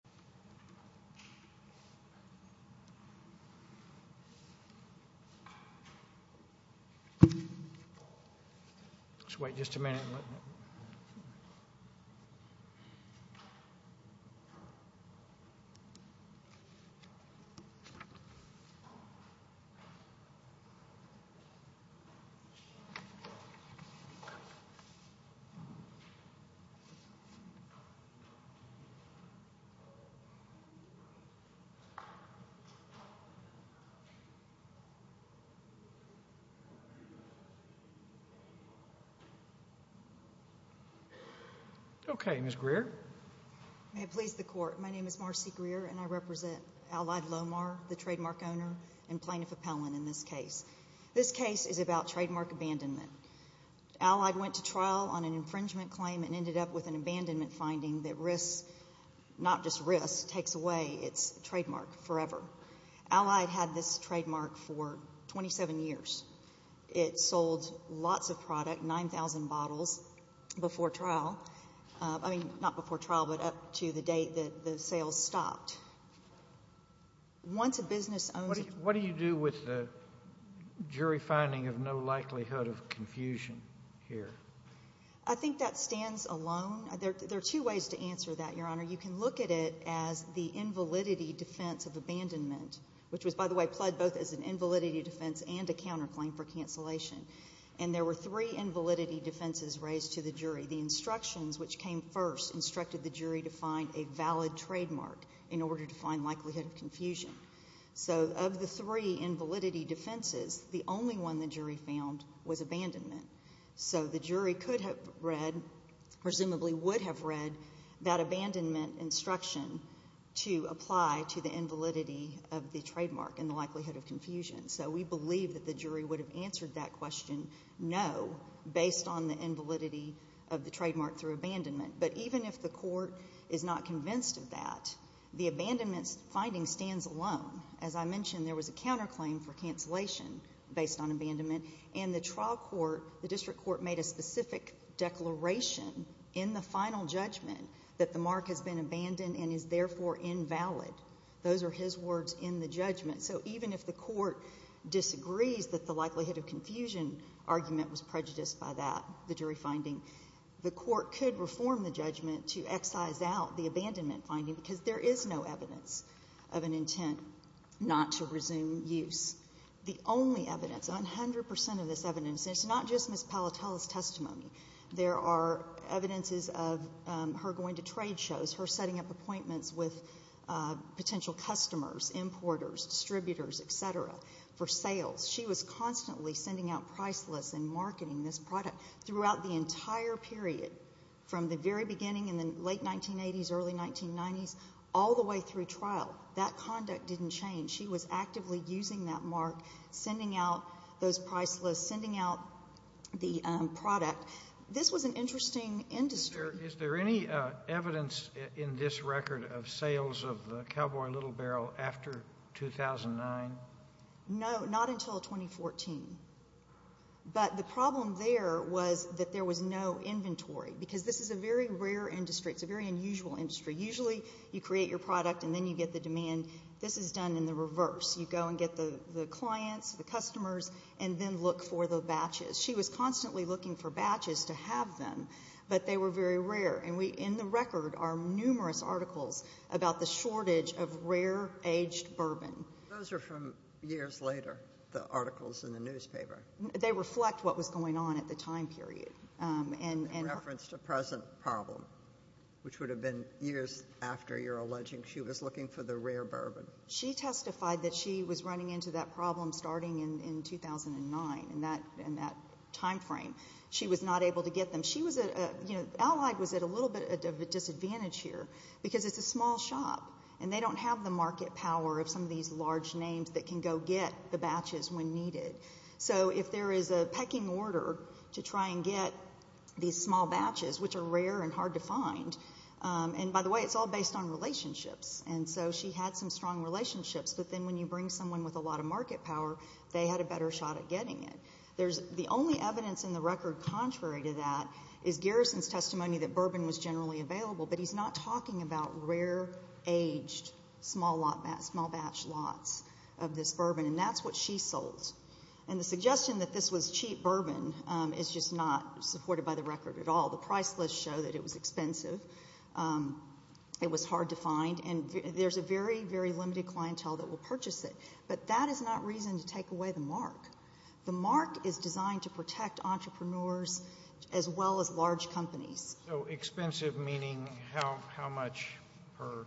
Lone Star Distillery, Incorporated v. Lone Star Distillery Okay, Ms. Greer. May it please the Court, my name is Marcy Greer and I represent Allied Lomar, the trademark owner and plaintiff appellant in this case. This case is about trademark abandonment. Allied went to trial on an infringement claim and ended up with an abandonment finding that risks, not just risks, takes away its trademark forever. Allied had this trademark for 27 years. It sold lots of product, 9,000 bottles, before trial. I mean, not before trial, but up to the date that the sales stopped. What do you do with the jury finding of no likelihood of confusion here? I think that stands alone. There are two ways to answer that, Your Honor. You can look at it as the invalidity defense of abandonment, which was, by the way, pled both as an invalidity defense and a counterclaim for cancellation. And there were three invalidity defenses raised to the jury. The instructions which came first instructed the jury to find a valid trademark in order to find likelihood of confusion. So of the three invalidity defenses, the only one the jury found was abandonment. So the jury could have read, presumably would have read, that abandonment instruction to apply to the invalidity of the trademark and the likelihood of confusion. So we believe that the jury would have answered that question, no, based on the invalidity of the trademark through abandonment. But even if the court is not convinced of that, the abandonment finding stands alone. As I mentioned, there was a counterclaim for cancellation based on abandonment. And the trial court, the district court, made a specific declaration in the final judgment that the mark has been abandoned and is therefore invalid. Those are his words in the judgment. So even if the court disagrees that the likelihood of confusion argument was prejudiced by that, the jury finding, the court could reform the judgment to excise out the abandonment finding because there is no evidence of an intent not to resume use. The only evidence, 100 percent of this evidence, and it's not just Ms. Palatella's testimony. There are evidences of her going to trade shows, her setting up appointments with potential customers, importers, distributors, et cetera, for sales. She was constantly sending out price lists and marketing this product throughout the entire period, from the very beginning in the late 1980s, early 1990s, all the way through trial. That conduct didn't change. She was actively using that mark, sending out those price lists, sending out the product. This was an interesting industry. Is there any evidence in this record of sales of the Cowboy Little Barrel after 2009? No, not until 2014. But the problem there was that there was no inventory because this is a very rare industry. It's a very unusual industry. Usually you create your product and then you get the demand. This is done in the reverse. You go and get the clients, the customers, and then look for the batches. She was constantly looking for batches to have them, but they were very rare. And in the record are numerous articles about the shortage of rare aged bourbon. Those are from years later, the articles in the newspaper. They reflect what was going on at the time period. Reference to present problem, which would have been years after you're alleging she was looking for the rare bourbon. She testified that she was running into that problem starting in 2009, in that time frame. She was not able to get them. Allied was at a little bit of a disadvantage here because it's a small shop, and they don't have the market power of some of these large names that can go get the batches when needed. So if there is a pecking order to try and get these small batches, which are rare and hard to find, and by the way, it's all based on relationships, and so she had some strong relationships, but then when you bring someone with a lot of market power, they had a better shot at getting it. The only evidence in the record contrary to that is Garrison's testimony that bourbon was generally available, but he's not talking about rare aged small batch lots of this bourbon, and that's what she sold. And the suggestion that this was cheap bourbon is just not supported by the record at all. The price lists show that it was expensive. It was hard to find, and there's a very, very limited clientele that will purchase it, but that is not reason to take away the mark. The mark is designed to protect entrepreneurs as well as large companies. So expensive meaning how much per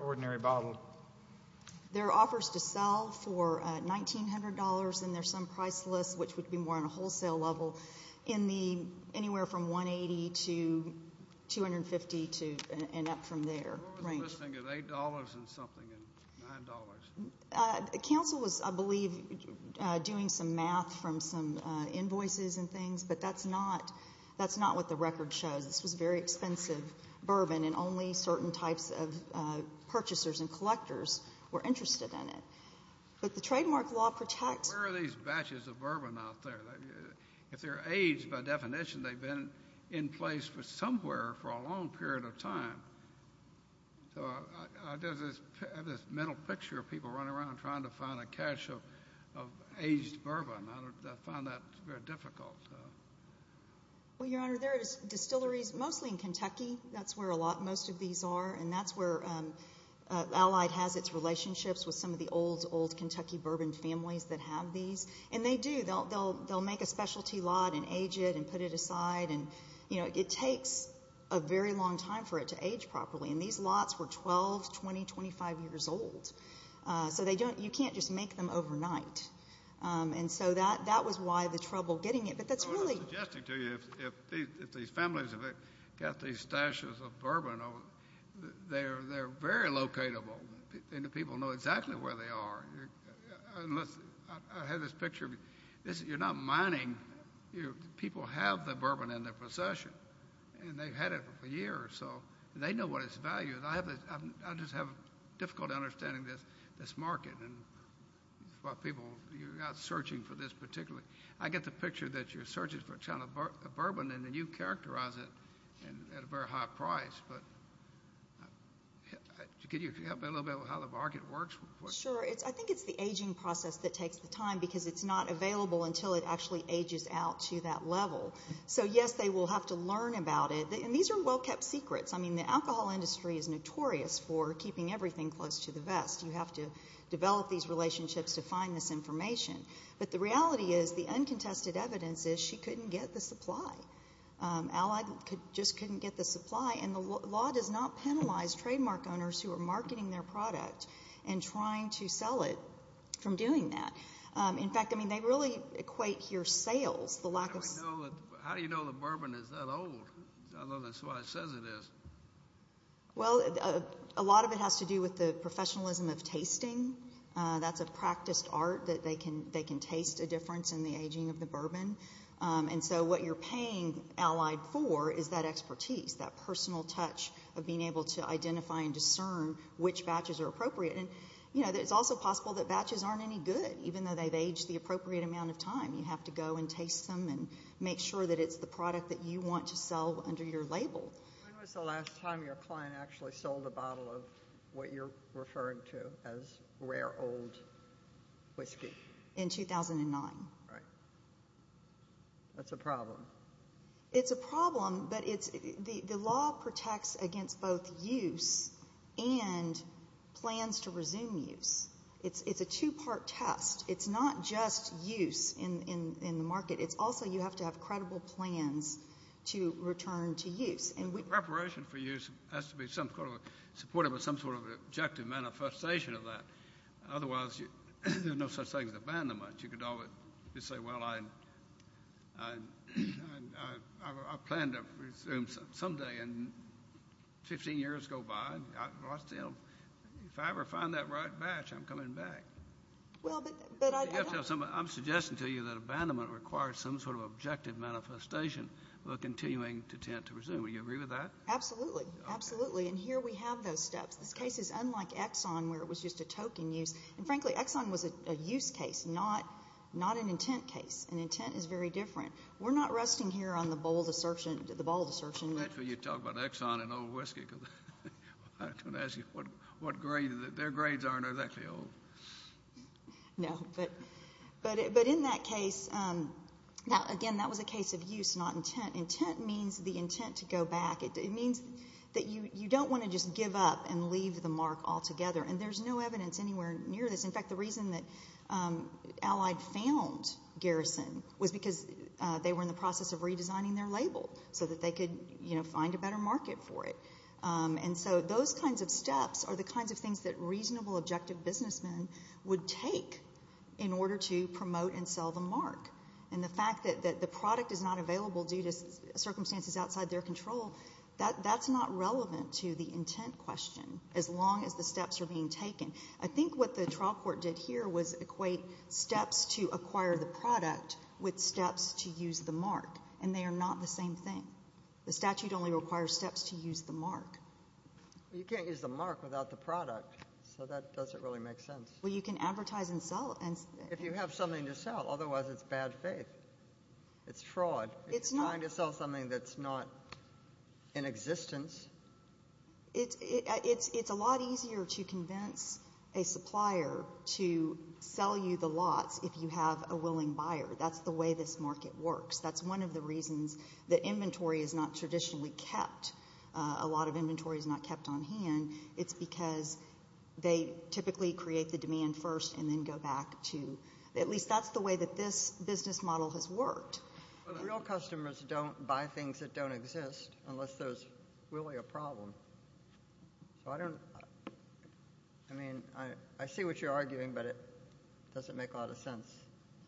ordinary bottle? There are offers to sell for $1,900, and there's some price lists, which would be more on a wholesale level anywhere from $180 to $250 and up from there. What was the listing at $8 and something and $9? Council was, I believe, doing some math from some invoices and things, but that's not what the record shows. This was very expensive bourbon, and only certain types of purchasers and collectors were interested in it. But the trademark law protects. Where are these batches of bourbon out there? If they're aged, by definition, they've been in place for somewhere for a long period of time. So I have this mental picture of people running around trying to find a cache of aged bourbon. I find that very difficult. Well, Your Honor, there are distilleries mostly in Kentucky. That's where most of these are, and that's where Allied has its relationships with some of the old, old Kentucky bourbon families that have these. And they do. They'll make a specialty lot and age it and put it aside. It takes a very long time for it to age properly, and these lots were 12, 20, 25 years old. So you can't just make them overnight. And so that was why the trouble getting it. But that's really— I was suggesting to you if these families have got these stashes of bourbon, they're very locatable, and the people know exactly where they are. I have this picture. You're not mining. People have the bourbon in their possession, and they've had it for a year or so, and they know what its value is. I just have a difficult understanding of this market and what people—you're not searching for this particularly. I get the picture that you're searching for a ton of bourbon, and then you characterize it at a very high price. But could you help me a little bit with how the market works? Sure. I think it's the aging process that takes the time because it's not available until it actually ages out to that level. So, yes, they will have to learn about it. And these are well-kept secrets. I mean, the alcohol industry is notorious for keeping everything close to the vest. You have to develop these relationships to find this information. But the reality is the uncontested evidence is she couldn't get the supply. Allied just couldn't get the supply, and the law does not penalize trademark owners who are marketing their product and trying to sell it from doing that. In fact, I mean, they really equate here sales, the lack of— How do you know the bourbon is that old? I don't know. That's what it says it is. Well, a lot of it has to do with the professionalism of tasting. That's a practiced art that they can taste a difference in the aging of the bourbon. And so what you're paying Allied for is that expertise, that personal touch of being able to identify and discern which batches are appropriate. And, you know, it's also possible that batches aren't any good, even though they've aged the appropriate amount of time. You have to go and taste them and make sure that it's the product that you want to sell under your label. When was the last time your client actually sold a bottle of what you're referring to as rare old whiskey? In 2009. Right. That's a problem. It's a problem, but the law protects against both use and plans to resume use. It's a two-part test. It's not just use in the market. It's also you have to have credible plans to return to use. Preparation for use has to be supportive of some sort of objective manifestation of that. Otherwise, there's no such thing as abandonment. You could say, well, I plan to resume someday and 15 years go by. If I ever find that right batch, I'm coming back. I'm suggesting to you that abandonment requires some sort of objective manifestation while continuing to attempt to resume. Would you agree with that? Absolutely. Absolutely. And here we have those steps. This case is unlike Exxon, where it was just a token use. And, frankly, Exxon was a use case, not an intent case. An intent is very different. We're not resting here on the bold assertion. You talk about Exxon and old whiskey. I was going to ask you, their grades aren't exactly old. No. But in that case, again, that was a case of use, not intent. Intent means the intent to go back. It means that you don't want to just give up and leave the mark altogether. And there's no evidence anywhere near this. In fact, the reason that Allied found Garrison was because they were in the process of redesigning their label so that they could find a better market for it. And so those kinds of steps are the kinds of things that reasonable, objective businessmen would take in order to promote and sell the mark. And the fact that the product is not available due to circumstances outside their control, that's not relevant to the intent question as long as the steps are being taken. I think what the trial court did here was equate steps to acquire the product with steps to use the mark, and they are not the same thing. The statute only requires steps to use the mark. You can't use the mark without the product, so that doesn't really make sense. Well, you can advertise and sell. If you have something to sell, otherwise it's bad faith. It's fraud. It's trying to sell something that's not in existence. It's a lot easier to convince a supplier to sell you the lots if you have a willing buyer. That's the way this market works. That's one of the reasons that inventory is not traditionally kept. A lot of inventory is not kept on hand. It's because they typically create the demand first and then go back to at least that's the way that this business model has worked. But real customers don't buy things that don't exist unless there's really a problem. So I don't know. I mean, I see what you're arguing, but it doesn't make a lot of sense.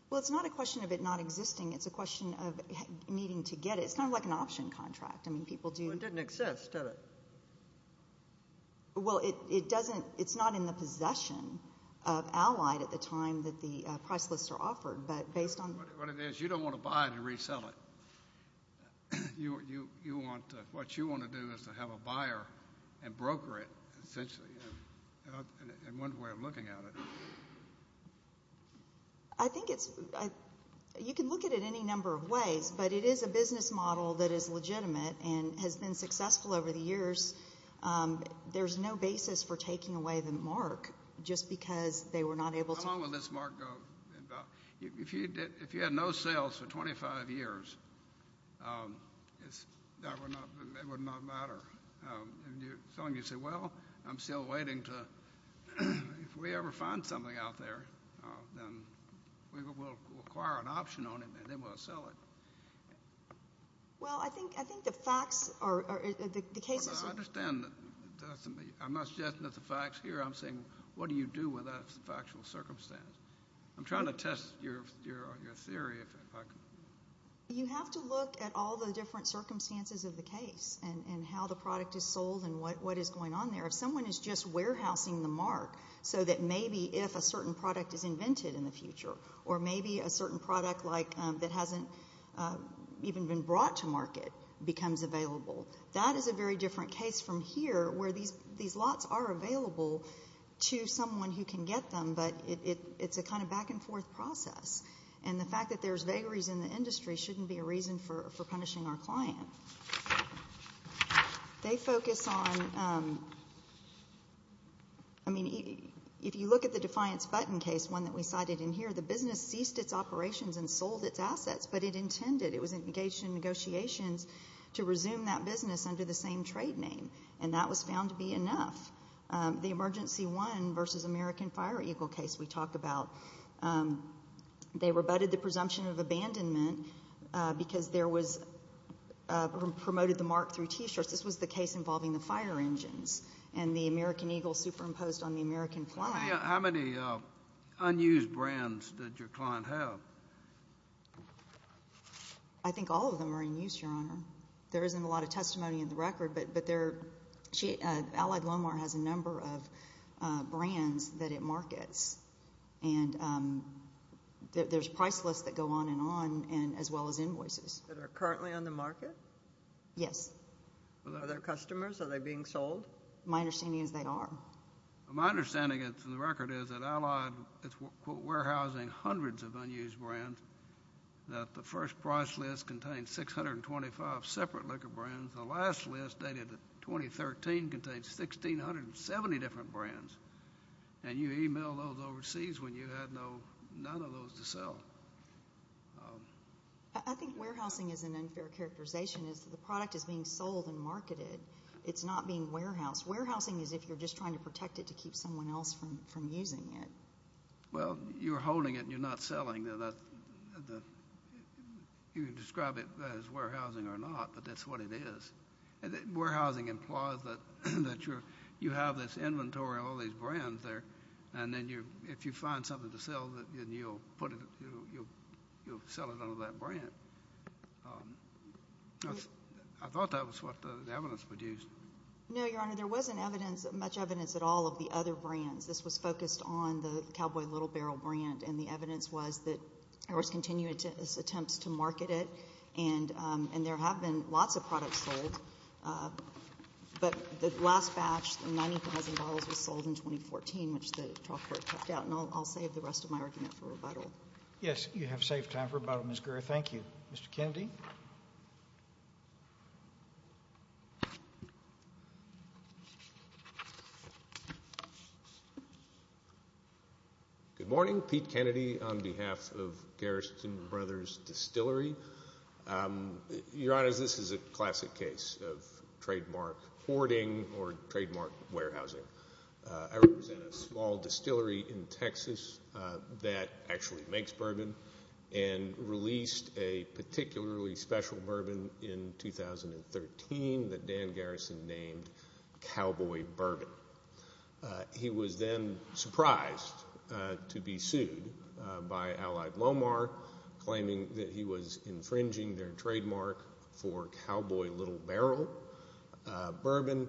Well, it's not a question of it not existing. It's a question of needing to get it. It's kind of like an option contract. Well, it didn't exist, did it? Well, it's not in the possession of Allied at the time that the price lists are offered. What it is, you don't want to buy it and resell it. What you want to do is to have a buyer and broker it, essentially, is one way of looking at it. I think you can look at it any number of ways, but it is a business model that is legitimate and has been successful over the years. There's no basis for taking away the mark just because they were not able to. How long will this mark go? If you had no sales for 25 years, that would not matter. As long as you say, well, I'm still waiting to, if we ever find something out there, then we will acquire an option on it and then we'll sell it. Well, I think the facts are, the cases are. I understand that. I'm not suggesting that the facts here. I'm saying what do you do with that factual circumstance? I'm trying to test your theory. You have to look at all the different circumstances of the case and how the product is sold and what is going on there. If someone is just warehousing the mark so that maybe if a certain product is invented in the future or maybe a certain product that hasn't even been brought to market becomes available, that is a very different case from here where these lots are available to someone who can get them, but it's a kind of back and forth process. And the fact that there's vagaries in the industry shouldn't be a reason for punishing our client. They focus on, I mean, if you look at the Defiance Button case, one that we cited in here, the business ceased its operations and sold its assets, but it intended, it was engaged in negotiations to resume that business under the same trade name, and that was found to be enough. The Emergency One v. American Fire Eagle case we talked about, they rebutted the presumption of abandonment because there was, promoted the mark through T-shirts. This was the case involving the fire engines and the American Eagle superimposed on the American flag. How many unused brands did your client have? I think all of them are in use, Your Honor. There isn't a lot of testimony in the record, but Allied Lomar has a number of brands that it markets, and there's price lists that go on and on as well as invoices. That are currently on the market? Yes. Are they customers? Are they being sold? My understanding is they are. My understanding in the record is that Allied is warehousing hundreds of unused brands, that the first price list contains 625 separate liquor brands. The last list dated 2013 contains 1,670 different brands, and you emailed those overseas when you had none of those to sell. I think warehousing is an unfair characterization. The product is being sold and marketed. It's not being warehoused. Warehousing is if you're just trying to protect it to keep someone else from using it. Well, you're holding it and you're not selling it. You can describe it as warehousing or not, but that's what it is. Warehousing implies that you have this inventory of all these brands there, and then if you find something to sell, you'll sell it under that brand. I thought that was what the evidence produced. No, Your Honor, there wasn't much evidence at all of the other brands. This was focused on the Cowboy Little Barrel brand, and the evidence was that there was continuous attempts to market it, and there have been lots of products sold, but the last batch, the $90,000, was sold in 2014, which the trial court cut out, and I'll save the rest of my argument for rebuttal. Yes, you have saved time for rebuttal, Ms. Guerra. Thank you. Mr. Kennedy. Good morning. Pete Kennedy on behalf of Garrison Brothers Distillery. Your Honor, this is a classic case of trademark hoarding or trademark warehousing. I represent a small distillery in Texas that actually makes bourbon and released a particularly special bourbon in 2013 that Dan Garrison named Cowboy Bourbon. He was then surprised to be sued by Allied Lomar, claiming that he was infringing their trademark for Cowboy Little Barrel bourbon,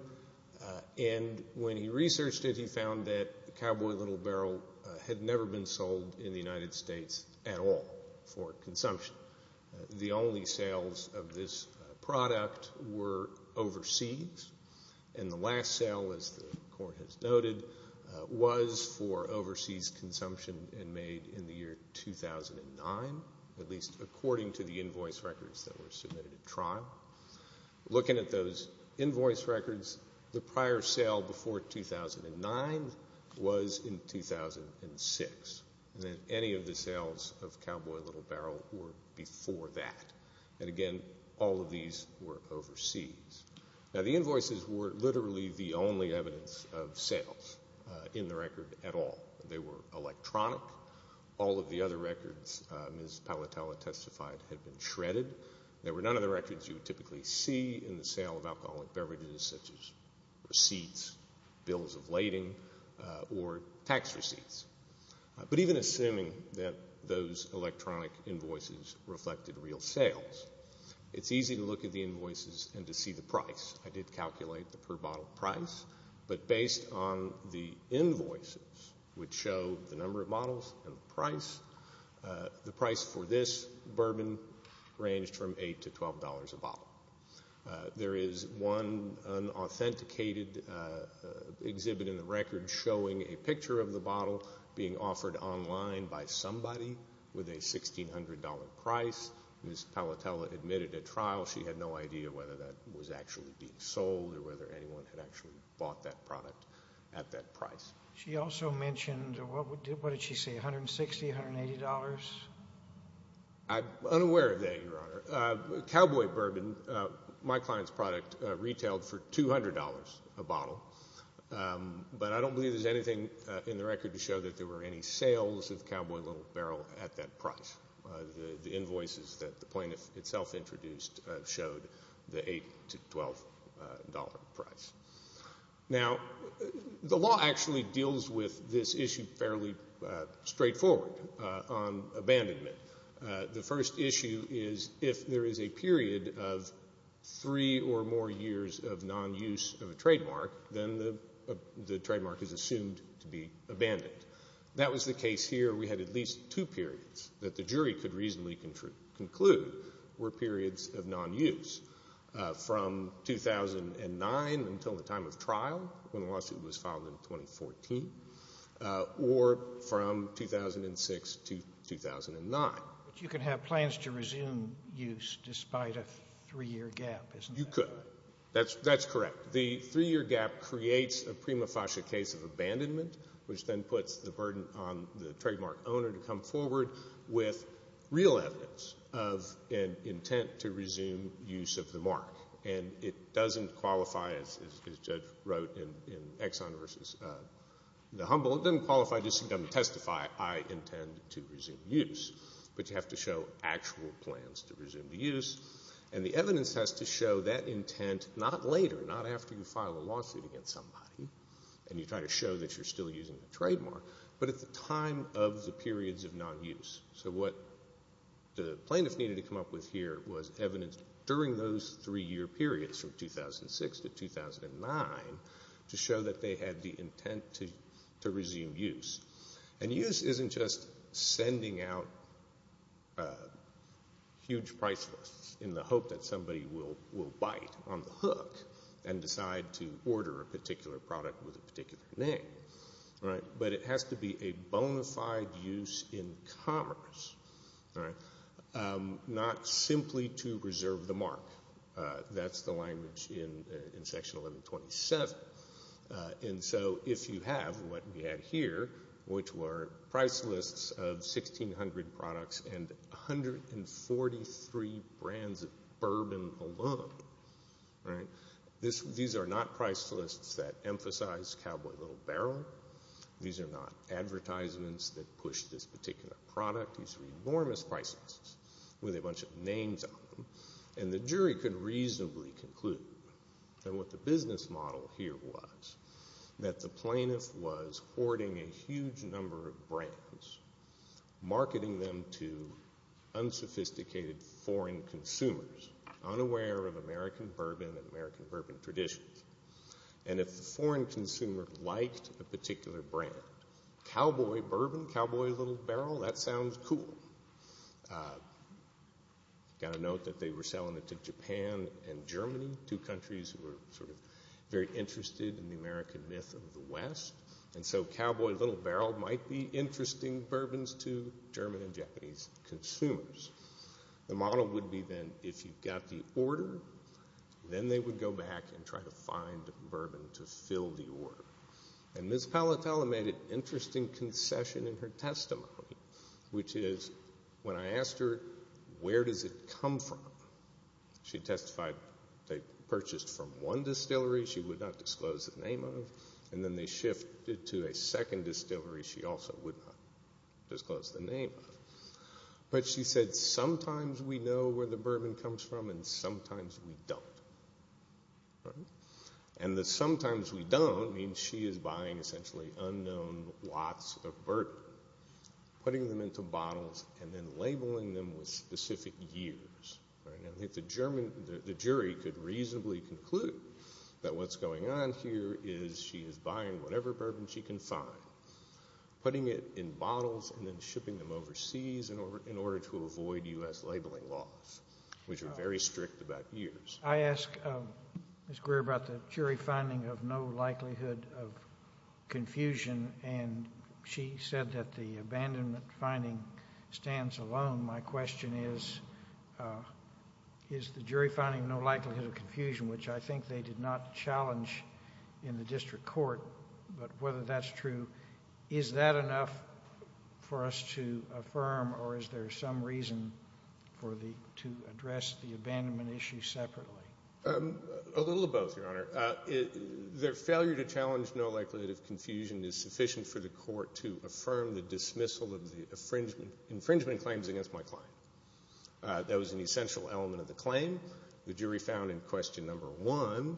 and when he researched it, he found that Cowboy Little Barrel had never been sold in the United States at all for consumption. The only sales of this product were overseas, and the last sale, as the court has noted, was for overseas consumption and made in the year 2009, at least according to the invoice records that were submitted at trial. Looking at those invoice records, the prior sale before 2009 was in 2006, and then any of the sales of Cowboy Little Barrel were before that, and again, all of these were overseas. Now, the invoices were literally the only evidence of sales in the record at all. They were electronic. All of the other records, as Ms. Palatela testified, had been shredded. There were none of the records you would typically see in the sale of alcoholic beverages, such as receipts, bills of lading, or tax receipts. But even assuming that those electronic invoices reflected real sales, it's easy to look at the invoices and to see the price. I did calculate the per bottle price, but based on the invoices, which show the number of bottles and the price, the price for this bourbon ranged from $8 to $12 a bottle. There is one unauthenticated exhibit in the record showing a picture of the bottle being offered online by somebody with a $1,600 price. Ms. Palatela admitted at trial she had no idea whether that was actually being sold or whether anyone had actually bought that product at that price. She also mentioned, what did she say, $160, $180? I'm unaware of that, Your Honor. Cowboy bourbon, my client's product, retailed for $200 a bottle. But I don't believe there's anything in the record to show that there were any sales of Cowboy Little Barrel at that price. The invoices that the plaintiff itself introduced showed the $8 to $12 price. Now, the law actually deals with this issue fairly straightforward on abandonment. The first issue is if there is a period of three or more years of non-use of a trademark, then the trademark is assumed to be abandoned. That was the case here. We had at least two periods that the jury could reasonably conclude were periods of non-use. From 2009 until the time of trial, when the lawsuit was filed in 2014, or from 2006 to 2009. But you could have plans to resume use despite a three-year gap, isn't that right? You could. That's correct. The three-year gap creates a prima facie case of abandonment, which then puts the burden on the trademark owner to come forward with real evidence of an intent to resume use of the mark. And it doesn't qualify, as the judge wrote in Exxon versus the Humble, it doesn't qualify just to come and testify, I intend to resume use. But you have to show actual plans to resume the use. And the evidence has to show that intent not later, not after you file a lawsuit against somebody and you try to show that you're still using the trademark, but at the time of the periods of non-use. So what the plaintiff needed to come up with here was evidence during those three-year periods, from 2006 to 2009, to show that they had the intent to resume use. And use isn't just sending out huge price lists in the hope that somebody will bite on the hook and decide to order a particular product with a particular name. But it has to be a bona fide use in commerce, not simply to reserve the mark. That's the language in Section 1127. And so if you have what we have here, which were price lists of 1,600 products and 143 brands of bourbon alone, these are not price lists that emphasize Cowboy Little Barrel. These are not advertisements that push this particular product. These are enormous price lists with a bunch of names on them. And the jury could reasonably conclude that what the business model here was, that the plaintiff was hoarding a huge number of brands, marketing them to unsophisticated foreign consumers, unaware of American bourbon and American bourbon traditions. And if the foreign consumer liked a particular brand, Cowboy Bourbon, Cowboy Little Barrel, that sounds cool. Got to note that they were selling it to Japan and Germany, two countries who were sort of very interested in the American myth of the West. And so Cowboy Little Barrel might be interesting bourbons to German and Japanese consumers. The model would be then if you got the order, then they would go back and try to find bourbon to fill the order. And Ms. Palatella made an interesting concession in her testimony, which is when I asked her where does it come from, she testified they purchased from one distillery she would not disclose the name of, and then they shifted to a second distillery she also would not disclose the name of. But she said sometimes we know where the bourbon comes from and sometimes we don't. And the sometimes we don't means she is buying essentially unknown lots of bourbon, putting them into bottles and then labeling them with specific years. The jury could reasonably conclude that what's going on here is she is buying whatever bourbon she can find, putting it in bottles and then shipping them overseas in order to avoid U.S. labeling laws, which are very strict about years. I asked Ms. Greer about the jury finding of no likelihood of confusion, and she said that the abandonment finding stands alone. My question is, is the jury finding no likelihood of confusion, which I think they did not challenge in the district court, but whether that's true, is that enough for us to affirm or is there some reason to address the abandonment issue separately? A little of both, Your Honor. The failure to challenge no likelihood of confusion is sufficient for the court to affirm the dismissal of the infringement claims against my client. That was an essential element of the claim. The jury found in question number one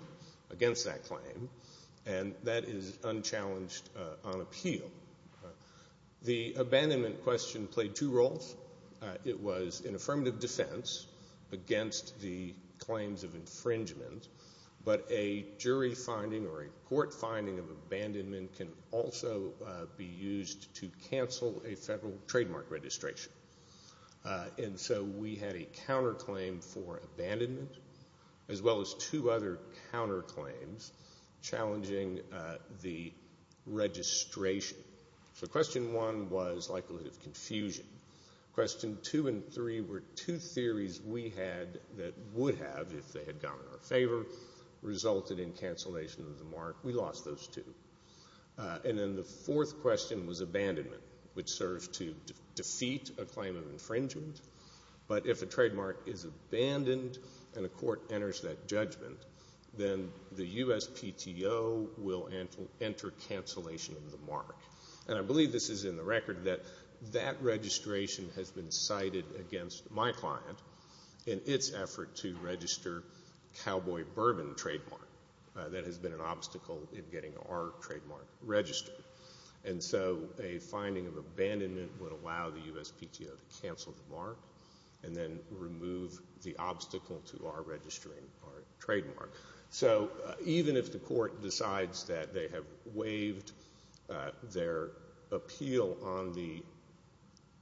against that claim, and that is unchallenged on appeal. The abandonment question played two roles. It was an affirmative defense against the claims of infringement, but a jury finding or a court finding of abandonment can also be used to cancel a federal trademark registration. And so we had a counterclaim for abandonment as well as two other counterclaims challenging the registration. So question one was likelihood of confusion. Question two and three were two theories we had that would have, if they had gone in our favor, resulted in cancellation of the mark. We lost those two. And then the fourth question was abandonment, which serves to defeat a claim of infringement. But if a trademark is abandoned and a court enters that judgment, then the USPTO will enter cancellation of the mark. And I believe this is in the record that that registration has been cited against my client in its effort to register Cowboy Bourbon trademark. That has been an obstacle in getting our trademark registered. And so a finding of abandonment would allow the USPTO to cancel the mark and then remove the obstacle to our registering our trademark. So even if the court decides that they have waived their appeal on the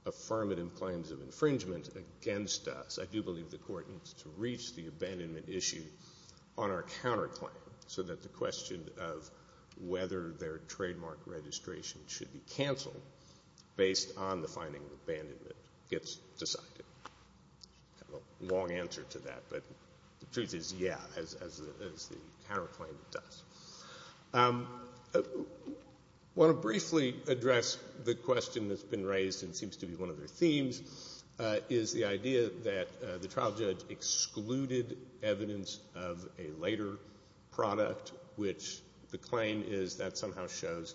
affirmative claims of infringement against us, I do believe the court needs to reach the abandonment issue on our counterclaim so that the question of whether their trademark registration should be canceled based on the finding of abandonment gets decided. I have a long answer to that, but the truth is, yeah, as the counterclaim does. I want to briefly address the question that's been raised and seems to be one of their themes, is the idea that the trial judge excluded evidence of a later product, which the claim is that somehow shows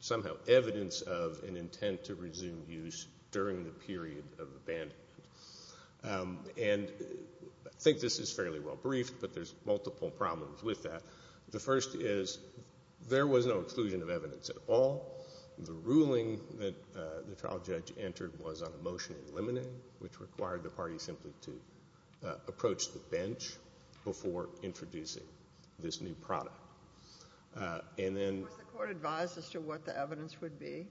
somehow evidence of an intent to resume use during the period of abandonment. And I think this is fairly well briefed, but there's multiple problems with that. The first is there was no exclusion of evidence at all. The ruling that the trial judge entered was on a motion in limine, which required the party simply to approach the bench before introducing this new product. Was the court advised as to what the evidence would be?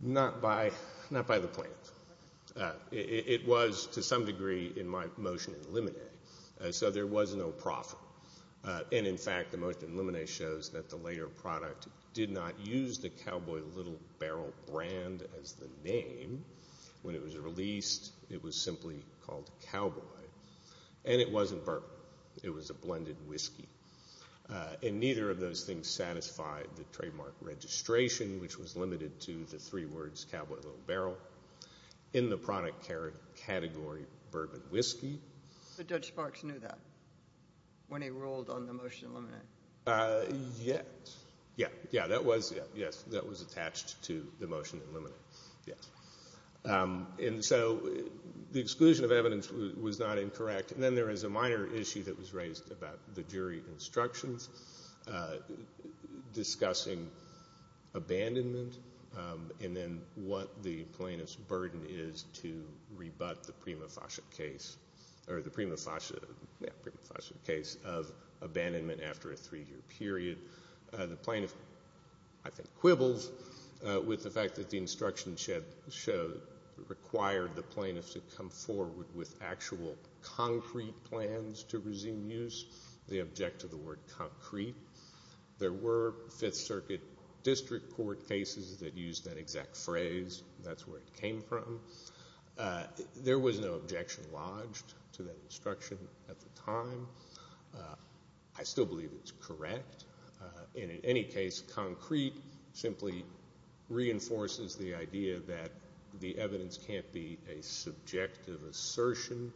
Not by the plans. It was, to some degree, in my motion in limine, so there was no profit. And, in fact, the motion in limine shows that the later product did not use the Cowboy Little Barrel brand as the name when it was released. It was simply called Cowboy. And it wasn't bourbon. It was a blended whiskey. And neither of those things satisfied the trademark registration, which was limited to the three words Cowboy Little Barrel in the product category bourbon whiskey. But Judge Sparks knew that when he ruled on the motion in limine? Yes. Yeah, that was attached to the motion in limine. And so the exclusion of evidence was not incorrect. And then there is a minor issue that was raised about the jury instructions discussing abandonment and then what the plaintiff's burden is to rebut the prima facie case of abandonment after a three-year period. The plaintiff, I think, quibbles with the fact that the instruction required the plaintiff to come forward with actual concrete plans to resume use. They object to the word concrete. There were Fifth Circuit district court cases that used that exact phrase. That's where it came from. There was no objection lodged to that instruction at the time. I still believe it's correct. And in any case, concrete simply reinforces the idea that the evidence can't be a subjective assertion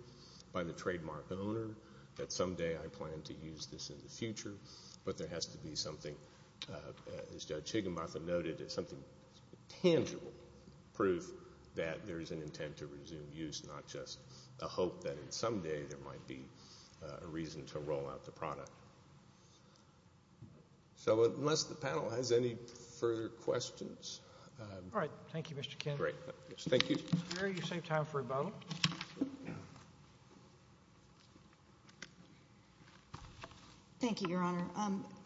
by the trademark owner, that someday I plan to use this in the future. But there has to be something, as Judge Higginbotham noted, tangible proof that there is an intent to resume use, not just a hope that someday there might be a reason to roll out the product. So unless the panel has any further questions. All right. Thank you, Mr. Kidd. Great. Thank you. Thank you, Your Honor.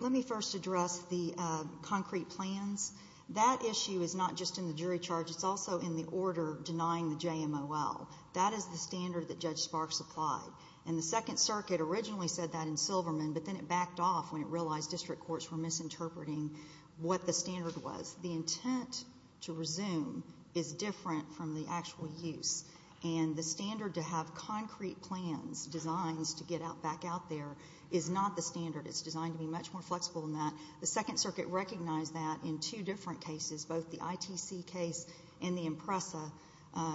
Let me first address the concrete plans. That issue is not just in the jury charge. It's also in the order denying the JMOL. That is the standard that Judge Sparks applied. And the Second Circuit originally said that in Silverman, but then it backed off when it realized district courts were misinterpreting what the standard was. The intent to resume is different from the actual use. And the standard to have concrete plans, designs to get back out there, is not the standard. It's designed to be much more flexible than that. The Second Circuit recognized that in two different cases, both the ITC case and the IMPRESA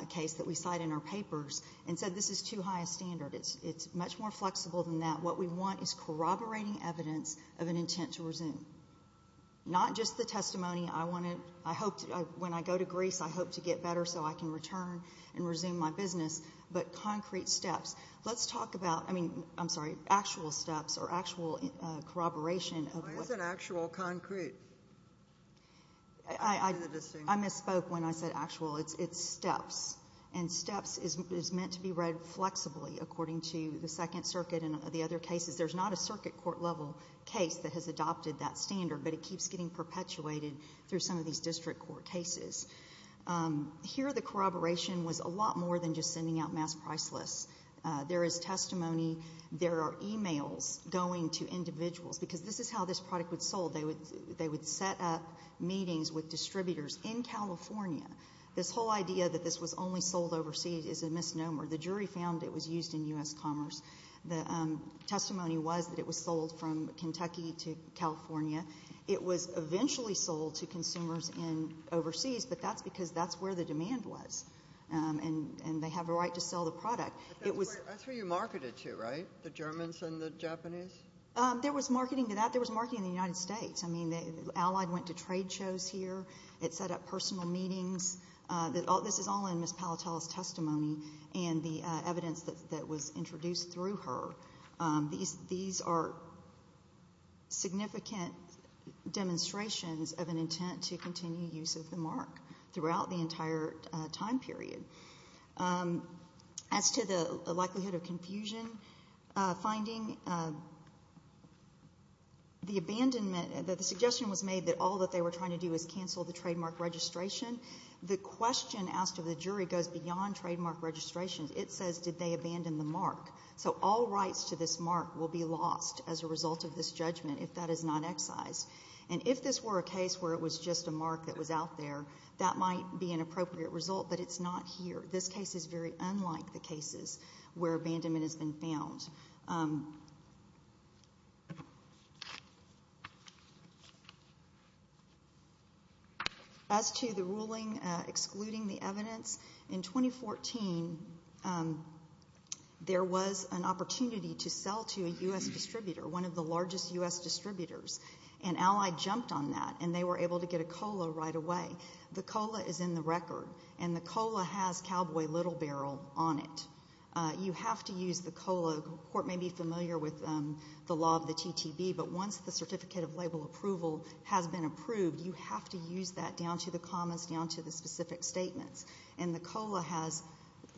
case that we cite in our papers, and said this is too high a standard. It's much more flexible than that. What we want is corroborating evidence of an intent to resume, not just the testimony, when I go to Greece, I hope to get better so I can return and resume my business, but concrete steps. Let's talk about actual steps or actual corroboration. Why is it actual concrete? I misspoke when I said actual. It's steps. And steps is meant to be read flexibly, according to the Second Circuit and the other cases. There's not a circuit court level case that has adopted that standard, but it keeps getting perpetuated through some of these district court cases. Here, the corroboration was a lot more than just sending out mass price lists. There is testimony. There are e-mails going to individuals, because this is how this product was sold. They would set up meetings with distributors in California. This whole idea that this was only sold overseas is a misnomer. The jury found it was used in U.S. commerce. The testimony was that it was sold from Kentucky to California. It was eventually sold to consumers overseas, but that's because that's where the demand was, and they have a right to sell the product. That's where you marketed to, right, the Germans and the Japanese? There was marketing to that. There was marketing in the United States. Allied went to trade shows here. It set up personal meetings. This is all in Ms. Palatel's testimony and the evidence that was introduced through her. These are significant demonstrations of an intent to continue use of the mark throughout the entire time period. As to the likelihood of confusion finding, the abandonment, the suggestion was made that all that they were trying to do is cancel the trademark registration. The question asked of the jury goes beyond trademark registration. It says, did they abandon the mark? So all rights to this mark will be lost as a result of this judgment if that is not excised. And if this were a case where it was just a mark that was out there, that might be an appropriate result, but it's not here. This case is very unlike the cases where abandonment has been found. As to the ruling excluding the evidence, in 2014 there was an opportunity to sell to a U.S. distributor, one of the largest U.S. distributors, and Allied jumped on that, and they were able to get a COLA right away. The COLA is in the record, and the COLA has Cowboy Little Barrel on it. You have to use the COLA. The Court may be familiar with the law of the TTB, but once the certificate of label approval has been approved, you have to use that down to the comments, down to the specific statements. And the COLA has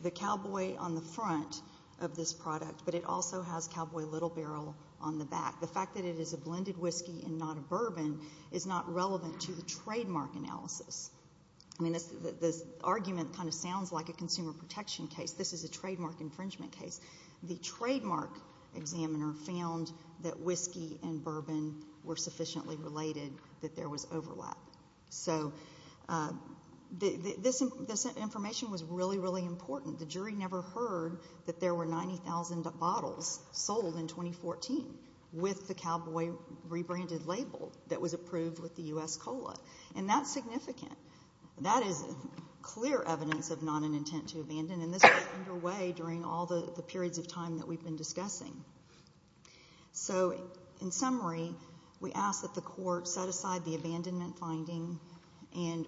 the Cowboy on the front of this product, but it also has Cowboy Little Barrel on the back. The fact that it is a blended whiskey and not a bourbon is not relevant to the trademark analysis. I mean, this argument kind of sounds like a consumer protection case. This is a trademark infringement case. The trademark examiner found that whiskey and bourbon were sufficiently related that there was overlap. So this information was really, really important. The jury never heard that there were 90,000 bottles sold in 2014 with the Cowboy rebranded label that was approved with the U.S. COLA, and that's significant. That is clear evidence of not an intent to abandon, and this was underway during all the periods of time that we've been discussing. So in summary, we ask that the Court set aside the abandonment finding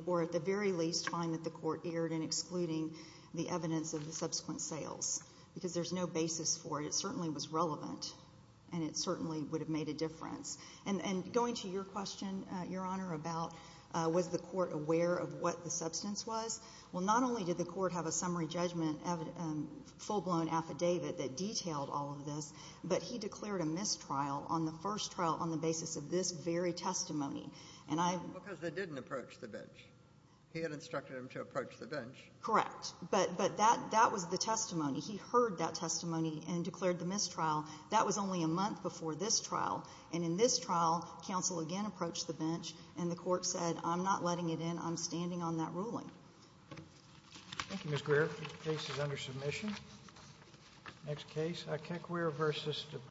or at the very least find that the Court erred in excluding the evidence of the subsequent sales because there's no basis for it. It certainly was relevant, and it certainly would have made a difference. And going to your question, Your Honor, about was the Court aware of what the substance was, well, not only did the Court have a summary judgment full-blown affidavit that detailed all of this, but he declared a mistrial on the first trial on the basis of this very testimony. Because they didn't approach the bench. He had instructed them to approach the bench. Correct, but that was the testimony. He heard that testimony and declared the mistrial. That was only a month before this trial, and in this trial, counsel again approached the bench and the Court said, I'm not letting it in. I'm standing on that ruling. Thank you, Ms. Greer. The case is under submission. Next case, Ikekwere v. DuPont.